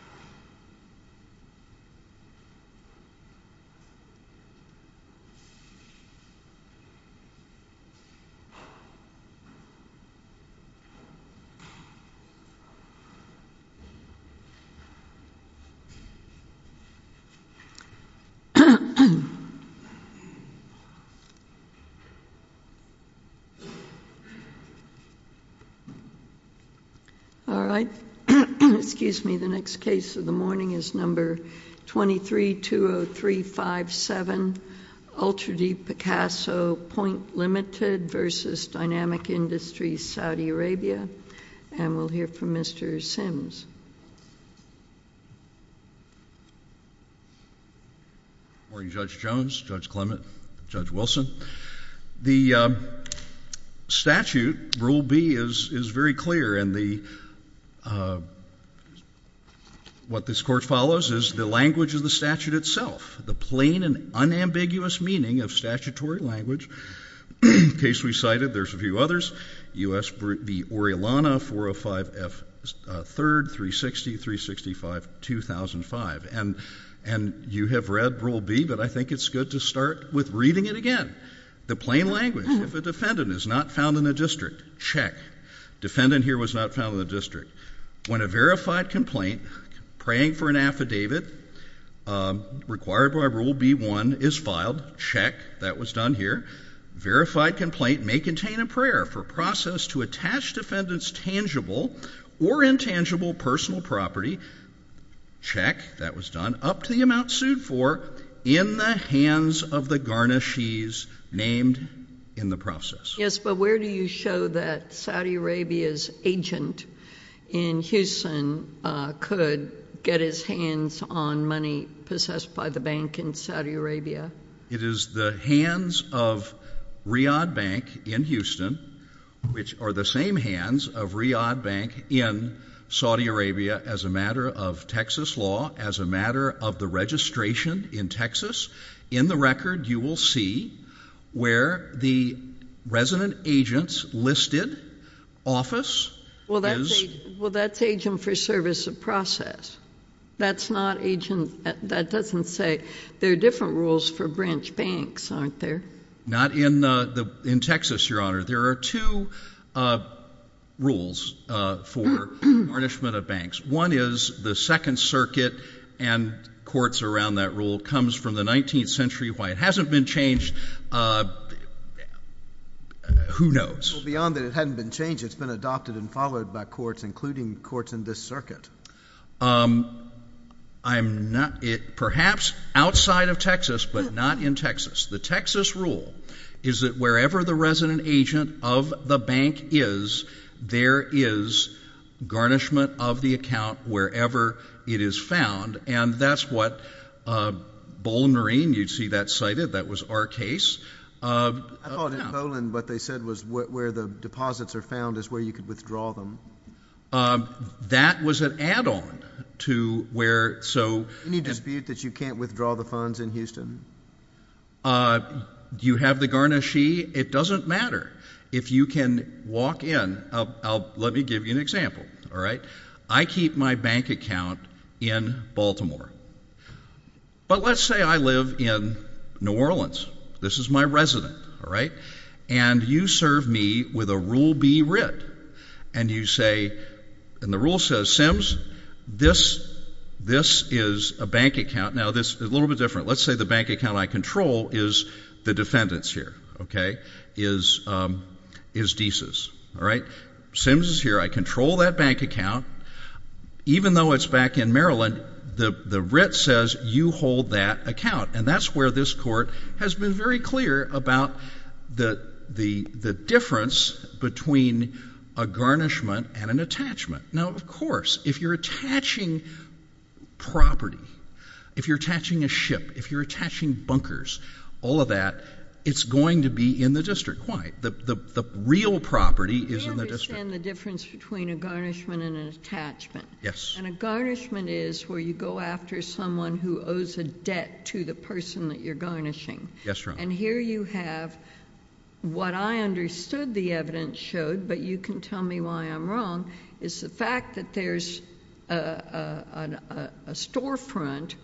A General Perspective The case of the morning is number 23-20357, Ultra Deep Picasso Point Limited v. Dynamic Industry, Saudi Arabia, and we'll hear from Mr. Sims. Judge Jones, Judge Clement, Judge Wilson, the statute, Rule B, is very clear and what this court follows is the language of the statute itself, the plain and unambiguous meaning of statutory language. The case we cited, there's a few others, U.S. v. Orellana, 405 F. 3rd, 360-365-2005. And you have read Rule B, but I think it's good to start with reading it again. The plain language, if a defendant is not found in a district, check. Defendant here was not found in the district. When a verified complaint, praying for an affidavit required by Rule B-1 is filed, check. That was done here. Verified complaint may contain a prayer for process to attach defendant's tangible or intangible personal property, check. That was done up to the amount sued for in the hands of the garnishees named in the process. Yes, but where do you show that Saudi Arabia's agent in Houston could get his hands on money possessed by the bank in Saudi Arabia? It is the hands of Riyadh Bank in Houston, which are the same hands of Riyadh Bank in Saudi Arabia as a matter of Texas law, as a matter of the registration in Texas. In the record, you will see where the resident agent's listed office is. Well, that's agent for service of process. That's not agent. That doesn't say. There are different rules for branch banks, aren't there? Not in Texas, Your Honor. There are two rules for garnishment of banks. One is the Second Circuit and courts around that rule comes from the 19th century. Why it hasn't been changed, who knows? Well, beyond that it hadn't been changed, it's been adopted and followed by courts, including courts in this circuit. I'm not — perhaps outside of Texas, but not in Texas. The Texas rule is that wherever the resident agent of the bank is, there is garnishment of the account wherever it is found, and that's what Boehnerine, you'd see that cited. That was our case. I thought in Poland what they said was where the deposits are found is where you could withdraw them. That was an add-on to where — Any dispute that you can't withdraw the funds in Houston? Do you have the garnishee? It doesn't matter. If you can walk in — let me give you an example, all right? I keep my bank account in Baltimore. But let's say I live in New Orleans. This is my resident, all right? And you serve me with a Rule B writ. And you say — and the rule says, Sims, this is a bank account. Now, this is a little bit different. Let's say the bank account I control is the defendant's here, okay, is Dease's, all right? Sims is here. I control that bank account. Even though it's back in Maryland, the writ says you hold that account. And that's where this court has been very clear about the difference between a garnishment and an attachment. Now, of course, if you're attaching property, if you're attaching a ship, if you're attaching bunkers, all of that, it's going to be in the district. Why? The real property is in the district. I understand the difference between a garnishment and an attachment. Yes. And a garnishment is where you go after someone who owes a debt to the person that you're garnishing. Yes, Your Honor. And here you have what I understood the evidence showed, but you can tell me why I'm wrong, is the fact that there's a storefront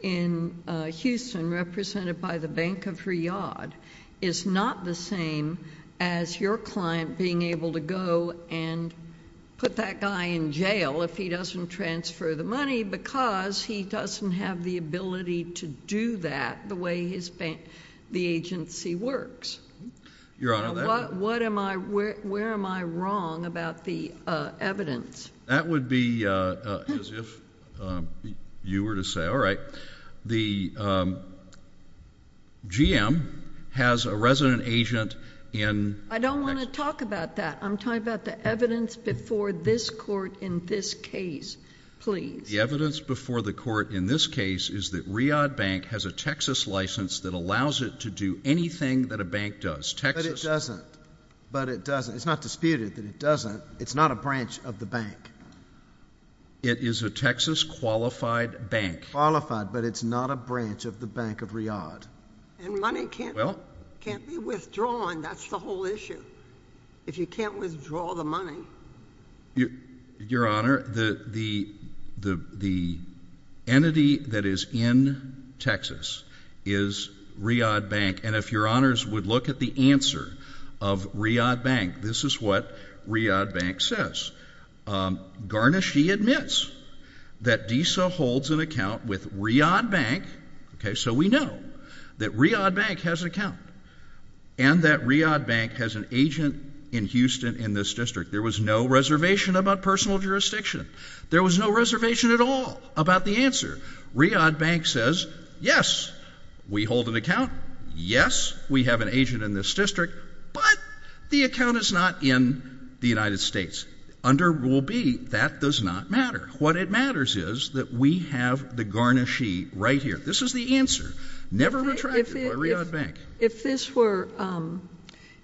in Houston represented by the Bank of Riyadh is not the same as your client being able to go and put that guy in jail if he doesn't transfer the money, because he doesn't have the ability to do that the way the agency works. Where am I wrong about the evidence? That would be as if you were to say, all right, the GM has a resident agent in Texas. I don't want to talk about that. I'm talking about the evidence before this court in this case, please. The evidence before the court in this case is that Riyadh Bank has a Texas license that allows it to do anything that a bank does. But it doesn't. But it doesn't. It's not disputed that it doesn't. It's not a branch of the bank. It is a Texas qualified bank. Qualified, but it's not a branch of the Bank of Riyadh. And money can't be withdrawn. That's the whole issue. If you can't withdraw the money. Your Honor, the entity that is in Texas is Riyadh Bank. And if Your Honors would look at the answer of Riyadh Bank, this is what Riyadh Bank says. Garnaschee admits that DESA holds an account with Riyadh Bank. Okay, so we know that Riyadh Bank has an account and that Riyadh Bank has an agent in Houston in this district. There was no reservation about personal jurisdiction. There was no reservation at all about the answer. Riyadh Bank says, yes, we hold an account. Yes, we have an agent in this district, but the account is not in the United States. Under Rule B, that does not matter. What matters is that we have the Garnaschee right here. This is the answer, never retracted by Riyadh Bank. If this were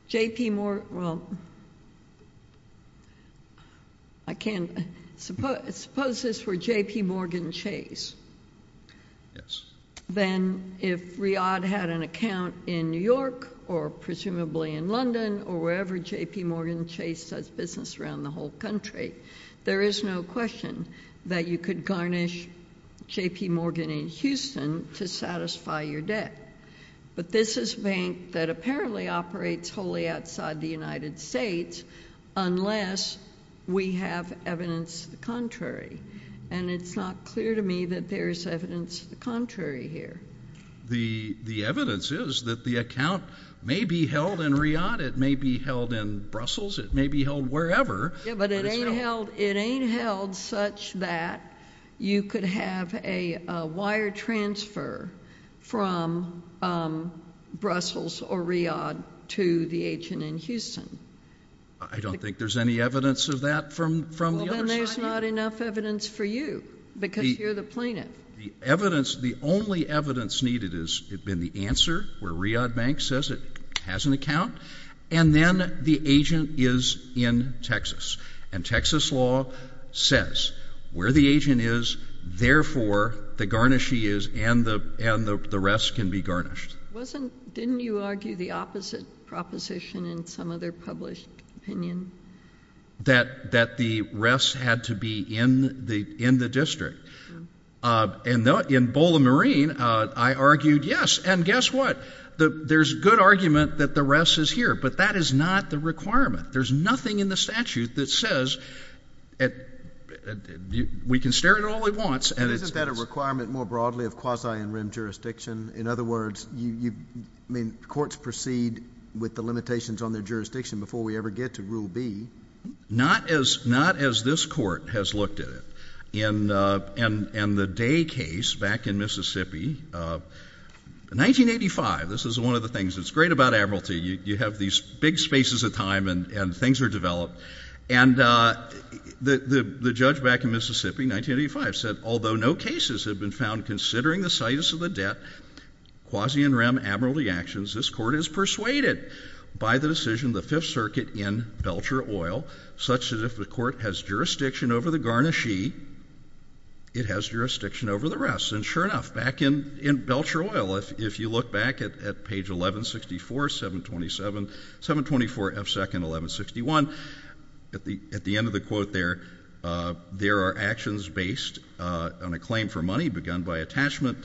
J.P. Morgan, well, I can't, suppose this were J.P. Morgan Chase. Yes. Then if Riyadh had an account in New York or presumably in London or wherever J.P. Morgan Chase does business around the whole country, there is no question that you could garnish J.P. Morgan in Houston to satisfy your debt. But this is a bank that apparently operates wholly outside the United States unless we have evidence to the contrary. And it's not clear to me that there is evidence to the contrary here. The evidence is that the account may be held in Riyadh. It may be held in Brussels. It may be held wherever. Yes, but it ain't held such that you could have a wire transfer from Brussels or Riyadh to the agent in Houston. I don't think there's any evidence of that from the other side. Well, then there's not enough evidence for you because you're the plaintiff. The evidence, the only evidence needed has been the answer where Riyadh Bank says it has an account. And then the agent is in Texas. And Texas law says where the agent is, therefore, the garnish he is and the rest can be garnished. Wasn't, didn't you argue the opposite proposition in some other published opinion? That the rest had to be in the district. And in Bowling Marine, I argued yes, and guess what? There's good argument that the rest is here, but that is not the requirement. There's nothing in the statute that says we can stare at it all we want. Isn't that a requirement more broadly of quasi-in-rim jurisdiction? In other words, courts proceed with the limitations on their jurisdiction before we ever get to Rule B. Not as this court has looked at it. In the Day case back in Mississippi, 1985, this is one of the things that's great about Admiralty. You have these big spaces of time and things are developed. And the judge back in Mississippi, 1985, said, although no cases have been found considering the situs of the debt, quasi-in-rim Admiralty actions, this court is persuaded by the decision of the Fifth Circuit in Belcher Oil, such that if the court has jurisdiction over the garnish he, it has jurisdiction over the rest. And sure enough, back in Belcher Oil, if you look back at page 1164, 724 F. 2nd, 1161, at the end of the quote there, there are actions based on a claim for money begun by attachment,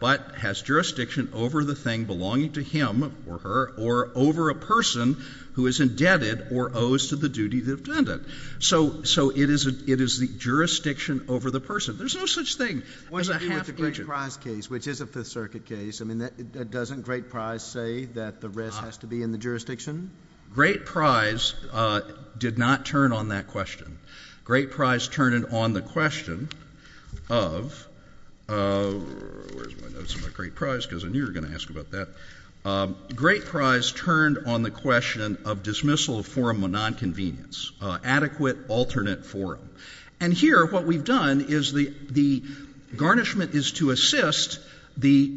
but has jurisdiction over the thing belonging to him or her or over a person who is indebted or owes to the duty of the defendant. So it is the jurisdiction over the person. There's no such thing. There's a half-inch bridge. With the Great Prize case, which is a Fifth Circuit case, I mean, doesn't Great Prize say that the rest has to be in the jurisdiction? Great Prize did not turn on that question. Great Prize turned it on the question of, where's my notes on the Great Prize, because I knew you were going to ask about that. Great Prize turned on the question of dismissal of forum of nonconvenience, adequate alternate forum. And here what we've done is the garnishment is to assist the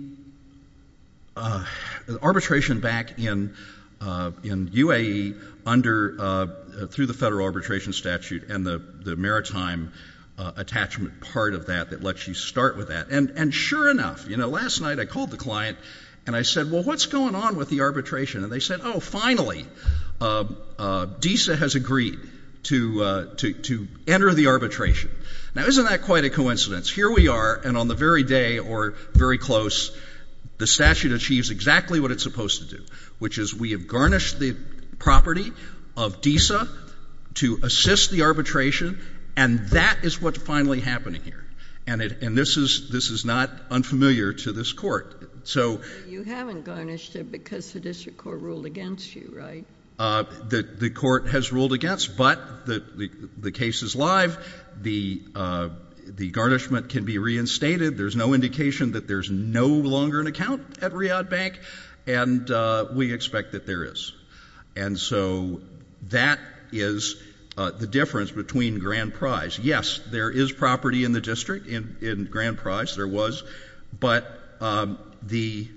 arbitration back in UAE under the Federal Arbitration Statute and the maritime attachment part of that that lets you start with that. And sure enough, you know, last night I called the client and I said, well, what's going on with the arbitration? And they said, oh, finally, DISA has agreed to enter the arbitration. Now, isn't that quite a coincidence? Here we are, and on the very day or very close, the statute achieves exactly what it's supposed to do, which is we have garnished the property of DISA to assist the arbitration, and that is what's finally happening here. And this is not unfamiliar to this Court. You haven't garnished it because the district court ruled against you, right? The court has ruled against, but the case is live. The garnishment can be reinstated. There's no indication that there's no longer an account at Riyadh Bank, and we expect that there is. And so that is the difference between Grand Prize. Yes, there is property in the district in Grand Prize. There was, but the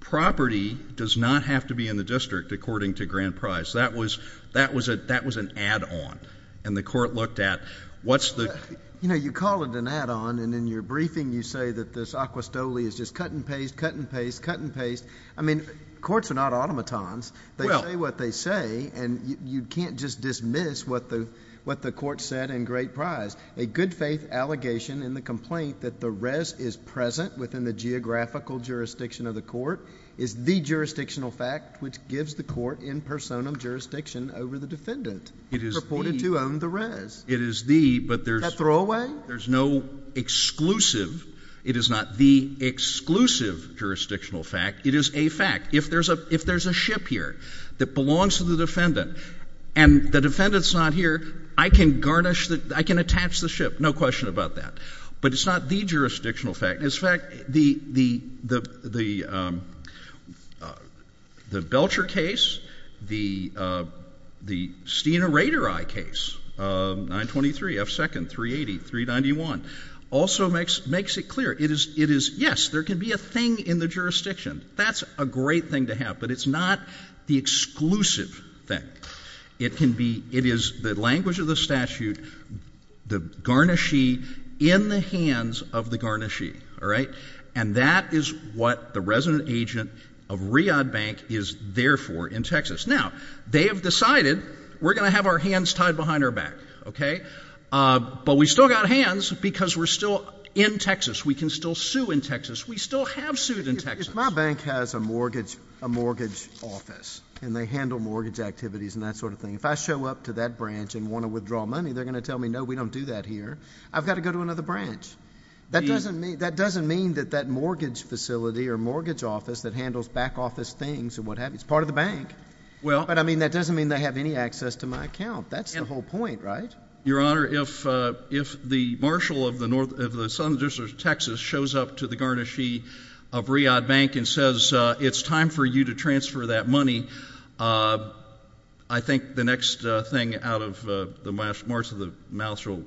property does not have to be in the district, according to Grand Prize. That was an add-on, and the court looked at what's the ---- You know, you call it an add-on, and in your briefing you say that this acquistole is just cut and paste, cut and paste, cut and paste. I mean, courts are not automatons. They say what they say, and you can't just dismiss what the court said in Grand Prize. A good-faith allegation in the complaint that the rez is present within the geographical jurisdiction of the court is the jurisdictional fact, which gives the court in personam jurisdiction over the defendant purported to own the rez. It is the, but there's no exclusive. It is not the exclusive jurisdictional fact. It is a fact. If there's a ship here that belongs to the defendant and the defendant's not here, I can garnish the, I can attach the ship, no question about that. But it's not the jurisdictional fact. In fact, the Belcher case, the Steena Raderi case, 923, F2nd, 380, 391, also makes it clear. It is, yes, there can be a thing in the jurisdiction. That's a great thing to have, but it's not the exclusive thing. It can be, it is the language of the statute, the garnishee in the hands of the garnishee, all right? And that is what the resident agent of Riad Bank is there for in Texas. Now, they have decided we're going to have our hands tied behind our back, okay? But we've still got hands because we're still in Texas. We can still sue in Texas. We still have sued in Texas. My bank has a mortgage office, and they handle mortgage activities and that sort of thing. If I show up to that branch and want to withdraw money, they're going to tell me, no, we don't do that here. I've got to go to another branch. That doesn't mean that that mortgage facility or mortgage office that handles back office things and what have you, it's part of the bank. But, I mean, that doesn't mean they have any access to my account. That's the whole point, right? Your Honor, if the marshal of the southern district of Texas shows up to the garnishee of Riad Bank and says it's time for you to transfer that money, I think the next thing out of the mouth of the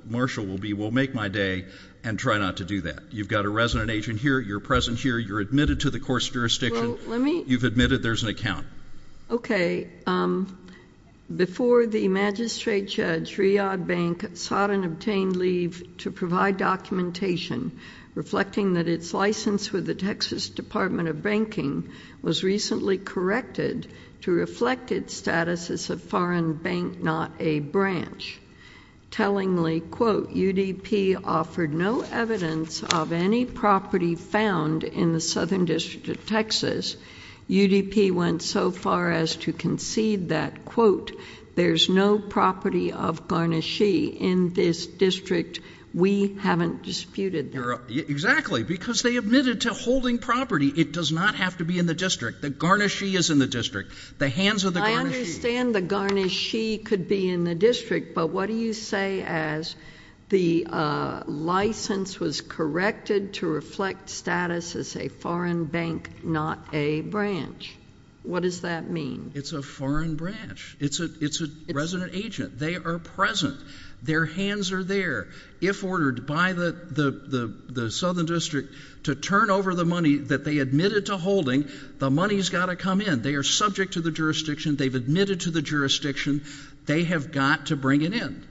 marshal will be, well, make my day and try not to do that. You've got a resident agent here. You're present here. You're admitted to the court's jurisdiction. You've admitted. There's an account. Okay. Before the magistrate judge, Riad Bank sought and obtained leave to provide documentation reflecting that its license with the Texas Department of Banking was recently corrected to reflect its status as a foreign bank, not a branch. Tellingly, quote, UDP offered no evidence of any property found in the southern district of Texas. UDP went so far as to concede that, quote, there's no property of garnishee in this district. We haven't disputed that. Exactly. Because they admitted to holding property. It does not have to be in the district. The garnishee is in the district. The hands of the garnishee. But what do you say as the license was corrected to reflect status as a foreign bank, not a branch? What does that mean? It's a foreign branch. It's a resident agent. They are present. Their hands are there. If ordered by the southern district to turn over the money that they admitted to holding, the money's got to come in. They are subject to the jurisdiction. They've admitted to the jurisdiction. They have got to bring it in.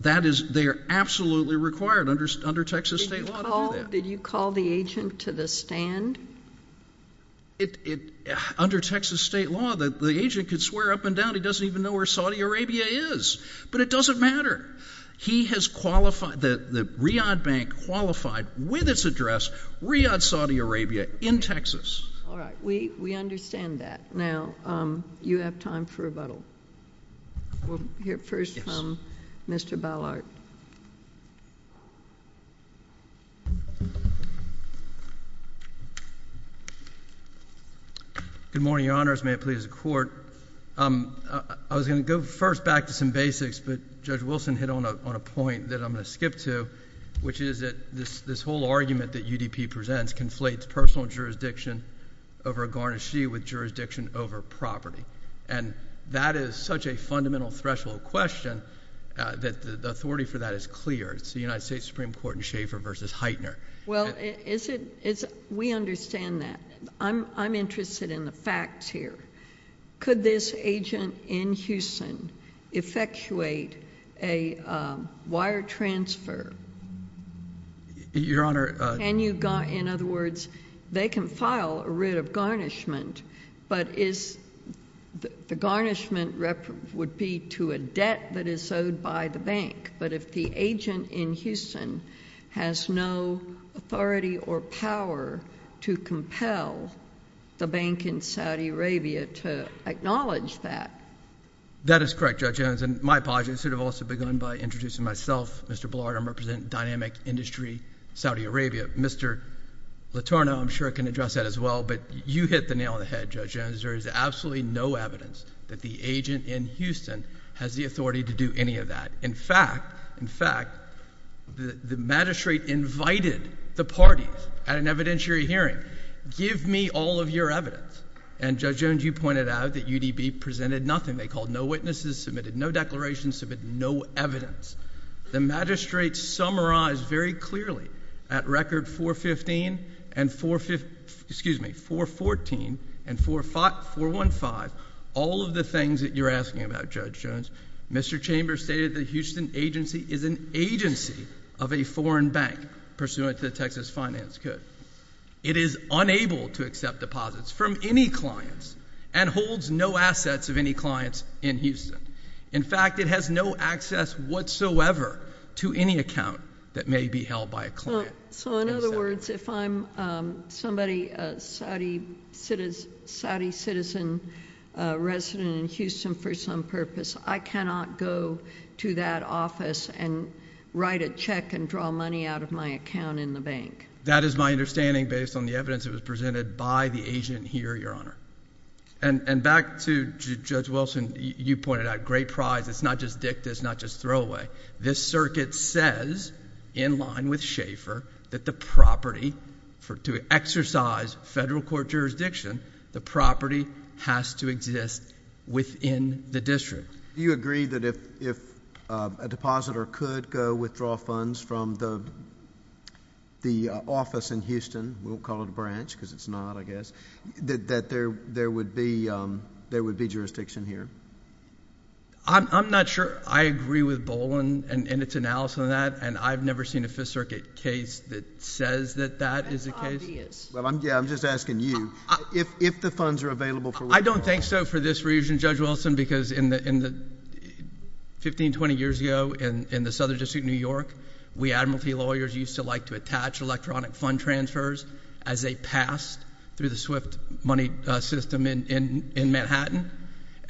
They are absolutely required under Texas state law to do that. Did you call the agent to the stand? Under Texas state law, the agent could swear up and down. He doesn't even know where Saudi Arabia is. But it doesn't matter. He has qualified. The Riyadh Bank qualified with its address Riyadh, Saudi Arabia, in Texas. All right. We understand that. Now, you have time for rebuttal. We'll hear first from Mr. Ballard. Good morning, Your Honors. May it please the Court. I was going to go first back to some basics, but Judge Wilson hit on a point that I'm going to skip to, which is that this whole argument that UDP presents conflates personal jurisdiction over a garnishee with jurisdiction over property. And that is such a fundamental threshold question that the authority for that is clear. It's the United States Supreme Court in Schaefer v. Heitner. Well, we understand that. I'm interested in the facts here. Could this agent in Houston effectuate a wire transfer? Your Honor. In other words, they can file a writ of garnishment, but the garnishment would be to a debt that is owed by the bank. But if the agent in Houston has no authority or power to compel the bank in Saudi Arabia to acknowledge that. That is correct, Judge Jones. And my apologies. I should have also begun by introducing myself, Mr. Ballard. I represent Dynamic Industry, Saudi Arabia. Mr. Letourneau, I'm sure, can address that as well. But you hit the nail on the head, Judge Jones. There is absolutely no evidence that the agent in Houston has the authority to do any of that. In fact, the magistrate invited the parties at an evidentiary hearing, give me all of your evidence. And, Judge Jones, you pointed out that UDB presented nothing. They called no witnesses, submitted no declarations, submitted no evidence. The magistrate summarized very clearly at record 415 and 415, all of the things that you're asking about, Judge Jones. Mr. Chambers stated that the Houston agency is an agency of a foreign bank pursuant to the Texas finance code. It is unable to accept deposits from any clients and holds no assets of any clients in Houston. In fact, it has no access whatsoever to any account that may be held by a client. So, in other words, if I'm somebody, a Saudi citizen resident in Houston for some purpose, I cannot go to that office and write a check and draw money out of my account in the bank. That is my understanding based on the evidence that was presented by the agent here, Your Honor. And back to Judge Wilson, you pointed out great prize. It's not just dicta. It's not just throwaway. This circuit says, in line with Schaefer, that the property, to exercise federal court jurisdiction, the property has to exist within the district. Do you agree that if a depositor could go withdraw funds from the office in Houston, we'll call it a branch because it's not, I guess, that there would be jurisdiction here? I'm not sure. I agree with Boland in its analysis on that. And I've never seen a Fifth Circuit case that says that that is the case. That's obvious. Yeah, I'm just asking you. If the funds are available for withdrawal— I don't think so for this reason, Judge Wilson, because 15, 20 years ago in the Southern District of New York, we admiralty lawyers used to like to attach electronic fund transfers as they passed through the Swift money system in Manhattan.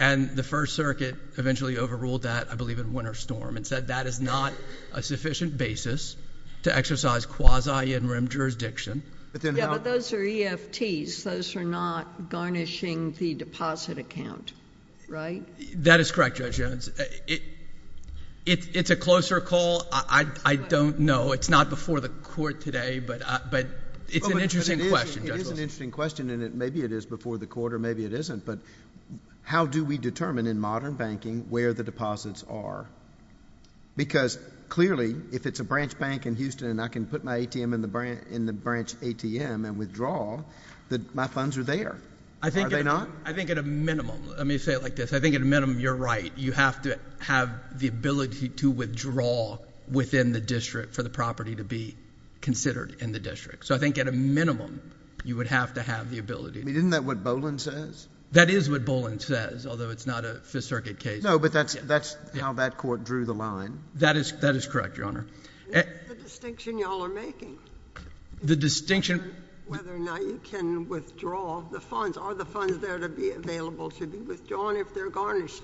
And the First Circuit eventually overruled that, I believe in Winter Storm, and said that is not a sufficient basis to exercise quasi-in-rim jurisdiction. Yeah, but those are EFTs. Those are not garnishing the deposit account, right? That is correct, Judge Jones. It's a closer call. I don't know. It's not before the court today, but it's an interesting question, Judge Wilson. It is an interesting question, and maybe it is before the court or maybe it isn't. But how do we determine in modern banking where the deposits are? Because clearly if it's a branch bank in Houston and I can put my ATM in the branch ATM and withdraw, my funds are there. Are they not? I think at a minimum—let me say it like this. I think at a minimum you're right. You have to have the ability to withdraw within the district for the property to be considered in the district. So I think at a minimum you would have to have the ability. I mean, isn't that what Boland says? That is what Boland says, although it's not a Fifth Circuit case. No, but that's how that court drew the line. That is correct, Your Honor. That's the distinction you all are making. The distinction— Whether or not you can withdraw the funds. Are the funds there to be available to be withdrawn if they're garnished?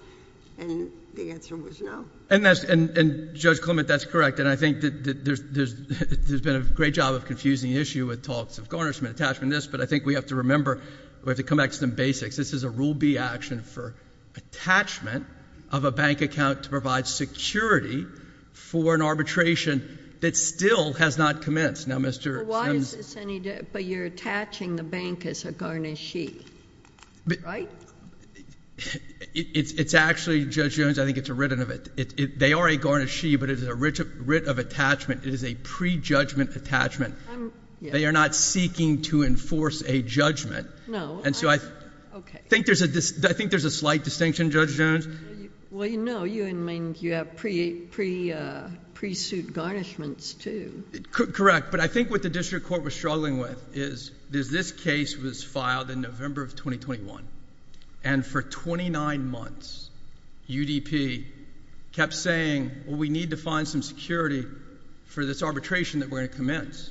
And the answer was no. And, Judge Clement, that's correct. And I think there's been a great job of confusing the issue with talks of garnishment, attachment, this. But I think we have to remember, we have to come back to some basics. This is a Rule B action for attachment of a bank account to provide security for an arbitration that still has not commenced. Now, Mr. Sims— But why is this any different? But you're attaching the bank as a garnishee, right? It's actually, Judge Jones, I think it's a written— They are a garnishee, but it is a writ of attachment. It is a prejudgment attachment. They are not seeking to enforce a judgment. No. And so I think there's a slight distinction, Judge Jones. Well, no. You have pre-suit garnishments, too. Correct. But I think what the district court was struggling with is this case was filed in November of 2021. And for 29 months, UDP kept saying, well, we need to find some security for this arbitration that we're going to commence.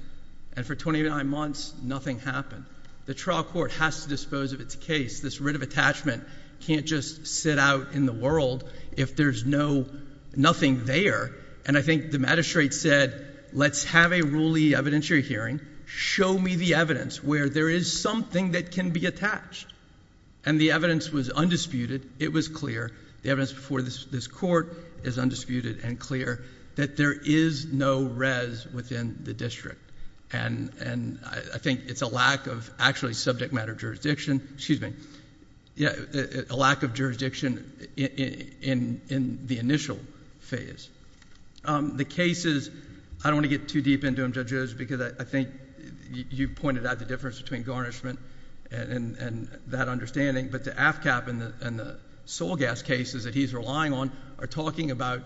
And for 29 months, nothing happened. The trial court has to dispose of its case. This writ of attachment can't just sit out in the world if there's nothing there. And I think the magistrate said, let's have a ruley evidentiary hearing. Show me the evidence where there is something that can be attached. And the evidence was undisputed. It was clear. The evidence before this court is undisputed and clear that there is no rez within the district. And I think it's a lack of actually subject matter jurisdiction. Excuse me. A lack of jurisdiction in the initial phase. The cases, I don't want to get too deep into them, Judge Jones, because I think you pointed out the difference between garnishment and that understanding. But the AFCAP and the sole gas cases that he's relying on are talking about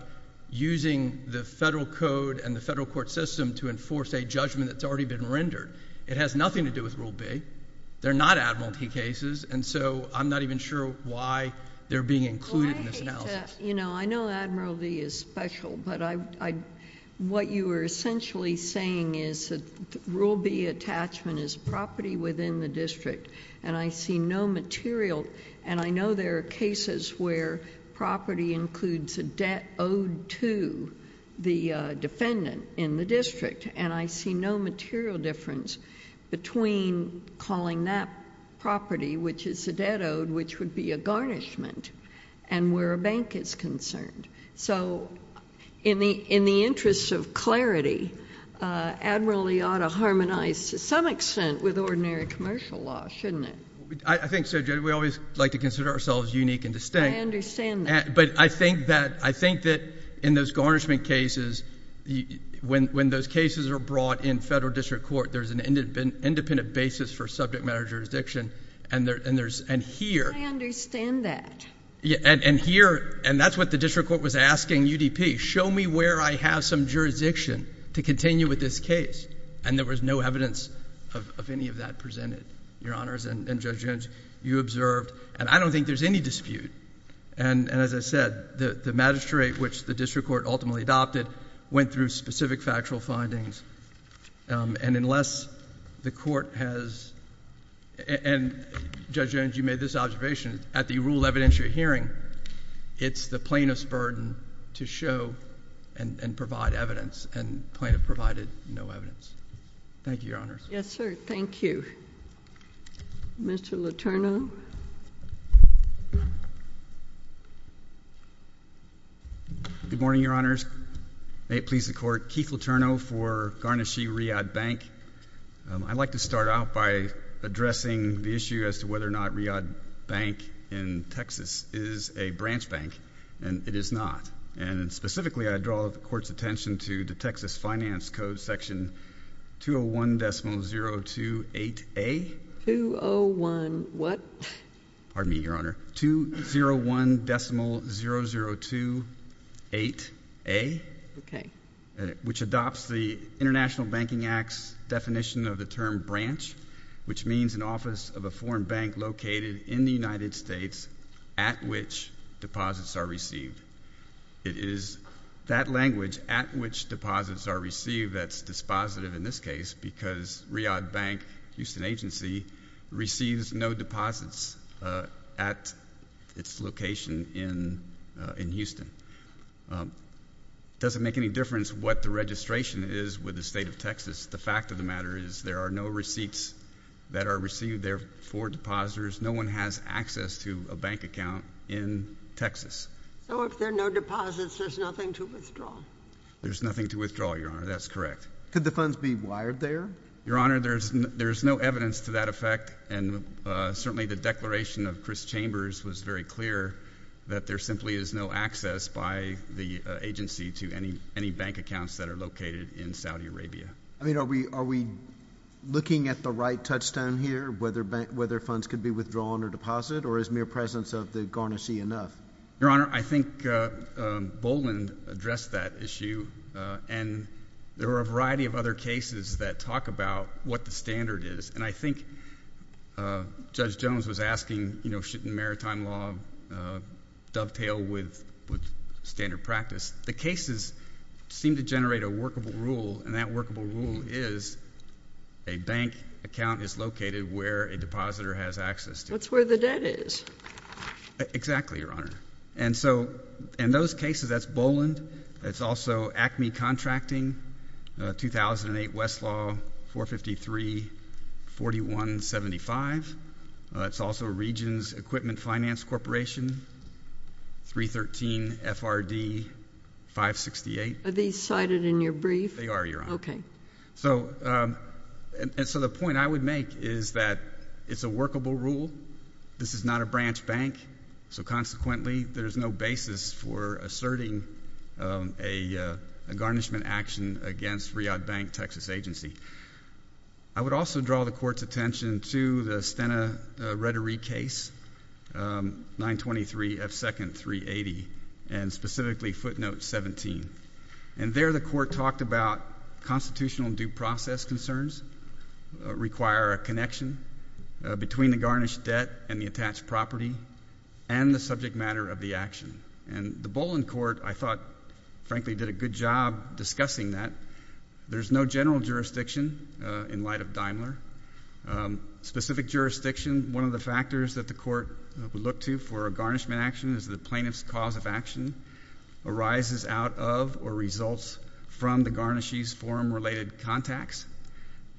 using the federal code and the federal court system to enforce a judgment that's already been rendered. It has nothing to do with Rule B. They're not admiralty cases. And so I'm not even sure why they're being included in this analysis. I know admiralty is special, but what you were essentially saying is that Rule B attachment is property within the district. And I see no material... and I know there are cases where property includes a debt owed to the defendant in the district. And I see no material difference between calling that property, which is a debt owed, which would be a garnishment. And where a bank is concerned. So in the interest of clarity, admiralty ought to harmonize to some extent with ordinary commercial law, shouldn't it? I think so, Judge. We always like to consider ourselves unique and distinct. I understand that. But I think that in those garnishment cases, when those cases are brought in federal district court, there's an independent basis for subject matter jurisdiction. And here... I understand that. And here... and that's what the district court was asking UDP. Show me where I have some jurisdiction to continue with this case. And there was no evidence of any of that presented, Your Honors. And Judge Jones, you observed... and I don't think there's any dispute. And as I said, the magistrate, which the district court ultimately adopted, went through specific factual findings. And unless the court has... and Judge Jones, you made this observation. At the rule of evidentiary hearing, it's the plaintiff's burden to show and provide evidence. And the plaintiff provided no evidence. Thank you, Your Honors. Yes, sir. Thank you. Mr. Letourneau. Good morning, Your Honors. May it please the Court. Keith Letourneau for Garnashee Riyadh Bank. I'd like to start out by addressing the issue as to whether or not Riyadh Bank in Texas is a branch bank. And it is not. And specifically, I draw the Court's attention to the Texas Finance Code Section 201.028A. 201 what? Pardon me, Your Honor. 201.0028A. Okay. Which adopts the International Banking Act's definition of the term branch, which means an office of a foreign bank located in the United States at which deposits are received. It is that language, at which deposits are received, that's dispositive in this case, because Riyadh Bank, a Houston agency, receives no deposits at its location in Houston. It doesn't make any difference what the registration is with the state of Texas. The fact of the matter is there are no receipts that are received there for depositors. No one has access to a bank account in Texas. So if there are no deposits, there's nothing to withdraw. There's nothing to withdraw, Your Honor. That's correct. Could the funds be wired there? Your Honor, there's no evidence to that effect, and certainly the declaration of Chris Chambers was very clear that there simply is no access by the agency to any bank accounts that are located in Saudi Arabia. I mean, are we looking at the right touchstone here, whether funds could be withdrawn or deposited, or is mere presence of the garnishee enough? Your Honor, I think Boland addressed that issue, and there are a variety of other cases that talk about what the standard is, and I think Judge Jones was asking, you know, shouldn't maritime law dovetail with standard practice? The cases seem to generate a workable rule, and that workable rule is a bank account is located where a depositor has access to. That's where the debt is. Exactly, Your Honor. And so in those cases, that's Boland. It's also ACME Contracting, 2008 Westlaw 453-4175. It's also Regions Equipment Finance Corporation, 313 FRD 568. Are these cited in your brief? They are, Your Honor. Okay. So the point I would make is that it's a workable rule. This is not a branch bank. So consequently, there's no basis for asserting a garnishment action against Riyadh Bank, Texas agency. I would also draw the Court's attention to the Stena Rhetory case, 923 F. Second 380, and specifically footnote 17. And there the Court talked about constitutional due process concerns require a connection between the garnished debt and the attached property and the subject matter of the action. And the Boland Court, I thought, frankly, did a good job discussing that. There's no general jurisdiction in light of Daimler. Specific jurisdiction, one of the factors that the Court would look to for a garnishment action is the plaintiff's cause of action arises out of or results from the garnisher's form-related contacts.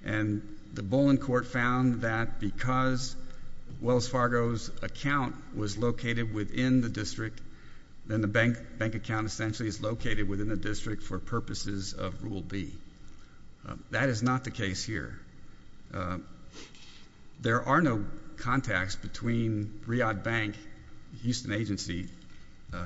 And the Boland Court found that because Wells Fargo's account was located within the district, then the bank account essentially is located within the district for purposes of Rule B. That is not the case here. There are no contacts between Riyadh Bank, Houston agency,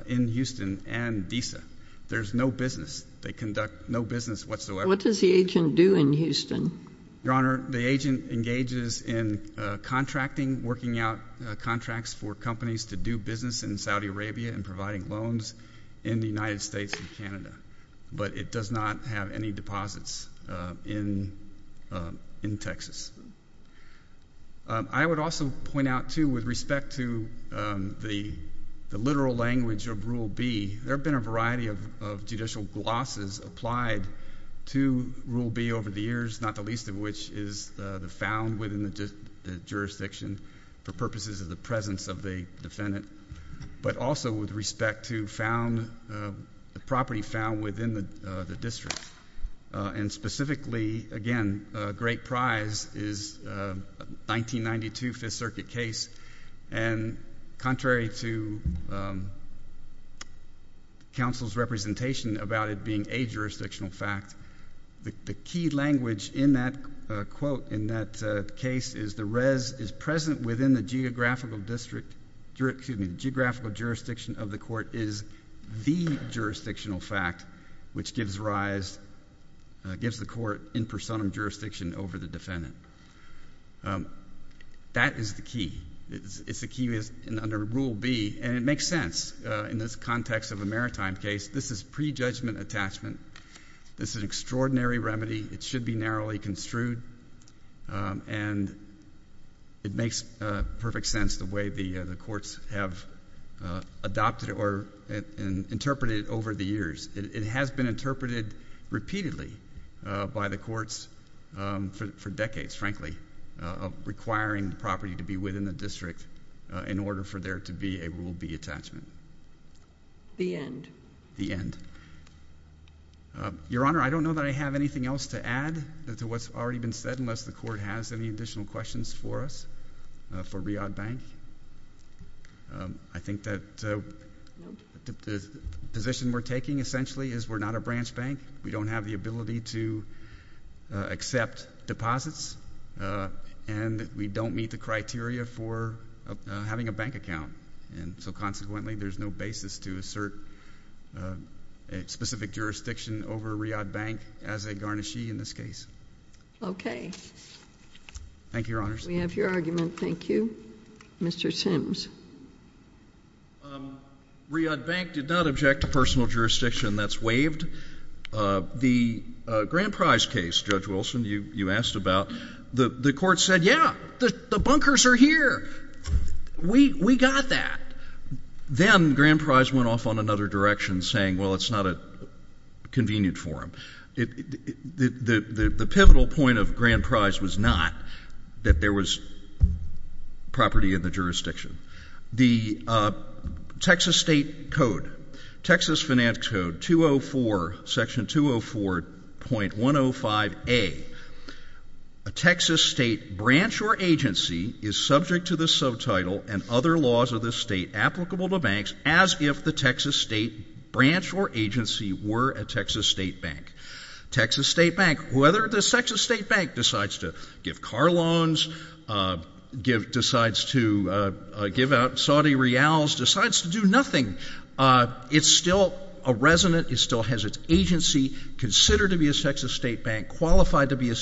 in Houston, and DESA. There's no business. They conduct no business whatsoever. What does the agent do in Houston? Your Honor, the agent engages in contracting, working out contracts for companies to do business in Saudi Arabia and providing loans in the United States and Canada. But it does not have any deposits in Texas. I would also point out, too, with respect to the literal language of Rule B, there have been a variety of judicial glosses applied to Rule B over the years, not the least of which is the found within the jurisdiction for purposes of the presence of the defendant, but also with respect to the property found within the district. And specifically, again, a great prize is a 1992 Fifth Circuit case. And contrary to counsel's representation about it being a jurisdictional fact, the key language in that quote, in that case, is the rez is present within the geographical district, excuse me, the geographical jurisdiction of the court is the jurisdictional fact, which gives rise, gives the court in personam jurisdiction over the defendant. That is the key. It's the key under Rule B. And it makes sense in this context of a maritime case. This is prejudgment attachment. This is an extraordinary remedy. It should be narrowly construed. And it makes perfect sense the way the courts have adopted or interpreted it over the years. It has been interpreted repeatedly by the courts for decades, frankly, requiring the property to be within the district in order for there to be a Rule B attachment. The end. The end. Your Honor, I don't know that I have anything else to add to what's already been said unless the court has any additional questions for us, for Riad Bank. I think that the position we're taking, essentially, is we're not a branch bank. We don't have the ability to accept deposits. And we don't meet the criteria for having a bank account. And so, consequently, there's no basis to assert a specific jurisdiction over Riad Bank as a garnishee in this case. Okay. Thank you, Your Honors. We have your argument. Thank you. Mr. Sims. Riad Bank did not object to personal jurisdiction. That's waived. The Grand Prize case, Judge Wilson, you asked about, the court said, yeah, the bunkers are here. We got that. Then Grand Prize went off on another direction, saying, well, it's not convenient for them. The pivotal point of Grand Prize was not that there was property in the jurisdiction. The Texas State Code, Texas Finance Code 204, Section 204.105A, a Texas state branch or agency is subject to the subtitle and other laws of the state applicable to banks as if the Texas state branch or agency were a Texas state bank. Texas state bank, whether the Texas state bank decides to give car loans, decides to give out Saudi reals, decides to do nothing, it's still a resident. It still has its agency considered to be a Texas state bank, qualified to be a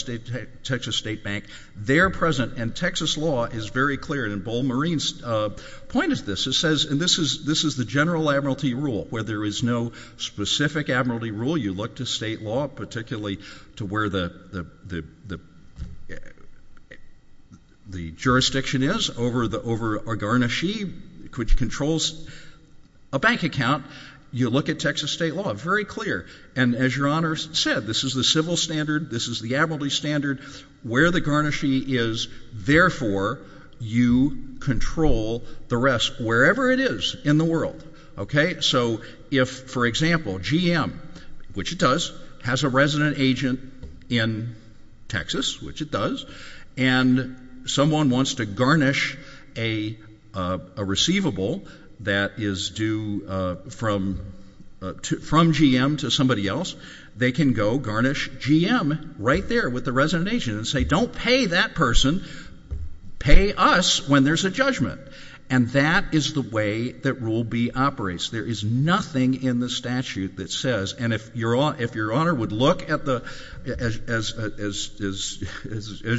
Texas state bank. They're present. And Texas law is very clear. And Bold Marine's point is this. It says, and this is the general admiralty rule, where there is no specific admiralty rule. You look to state law, particularly to where the jurisdiction is over a garnishee, which controls a bank account. You look at Texas state law. Very clear. And as Your Honor said, this is the civil standard. This is the admiralty standard. Where the garnishee is, therefore, you control the rest, wherever it is in the world. Okay? So if, for example, GM, which it does, has a resident agent in Texas, which it does, and someone wants to garnish a receivable that is due from GM to somebody else, they can go garnish GM right there with the resident agent and say, don't pay that person, pay us when there's a judgment. And that is the way that Rule B operates. There is nothing in the statute that says, and if Your Honor would look at the, as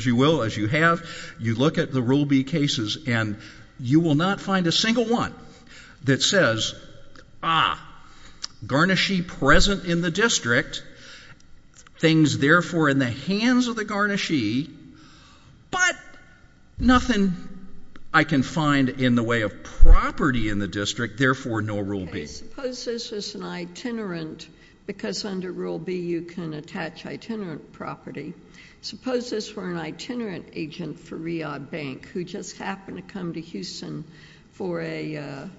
you will, as you have, you look at the Rule B cases and you will not find a single one that says, ah, garnishee present in the district, things, therefore, in the hands of the garnishee, but nothing I can find in the way of property in the district, therefore, no Rule B. Okay. Suppose this is an itinerant, because under Rule B you can attach itinerant property. Suppose this were an itinerant agent for Riyadh Bank who just happened to come to Houston for a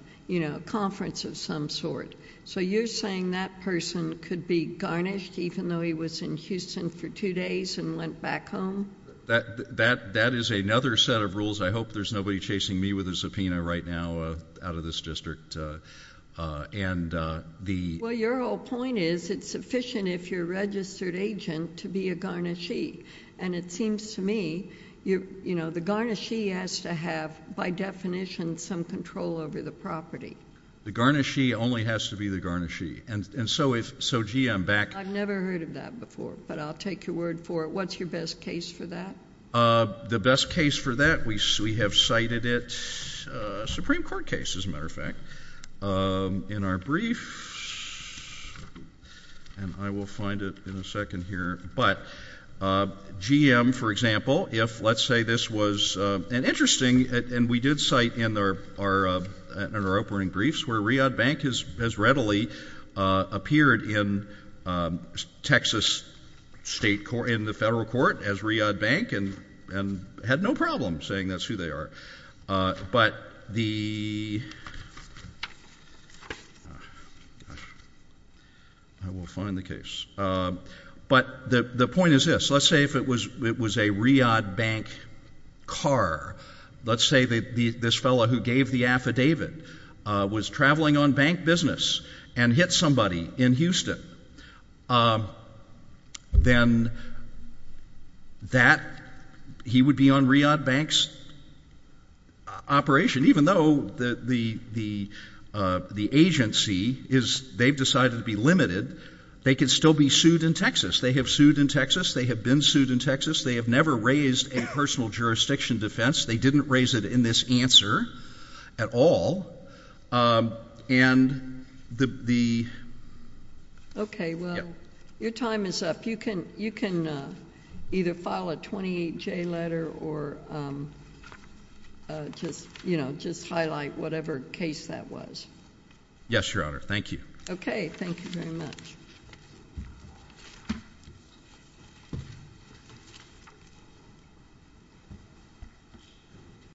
conference of some sort. So you're saying that person could be garnished even though he was in Houston for two days and went back home? That is another set of rules. I hope there's nobody chasing me with a subpoena right now out of this district. Well, your whole point is it's sufficient if you're a registered agent to be a garnishee. And it seems to me, you know, the garnishee has to have, by definition, some control over the property. The garnishee only has to be the garnishee. And so, gee, I'm back. I've never heard of that before, but I'll take your word for it. What's your best case for that? The best case for that, we have cited it, a Supreme Court case, as a matter of fact, in our brief. And I will find it in a second here. But GM, for example, if let's say this was an interesting, and we did cite in our opening briefs, where Riyadh Bank has readily appeared in Texas state court, in the federal court as Riyadh Bank, and had no problem saying that's who they are. But the, gosh, I will find the case. But the point is this. Let's say if it was a Riyadh Bank car. Let's say this fellow who gave the affidavit was traveling on bank business and hit somebody in Houston. Then that, he would be on Riyadh Bank's operation. Even though the agency is, they've decided to be limited, they could still be sued in Texas. They have sued in Texas. They have been sued in Texas. They have never raised a personal jurisdiction defense. They didn't raise it in this answer at all. And the... Okay. Well, your time is up. You can either file a 28J letter or just highlight whatever case that was. Yes, Your Honor. Thank you. Okay. Thank you very much.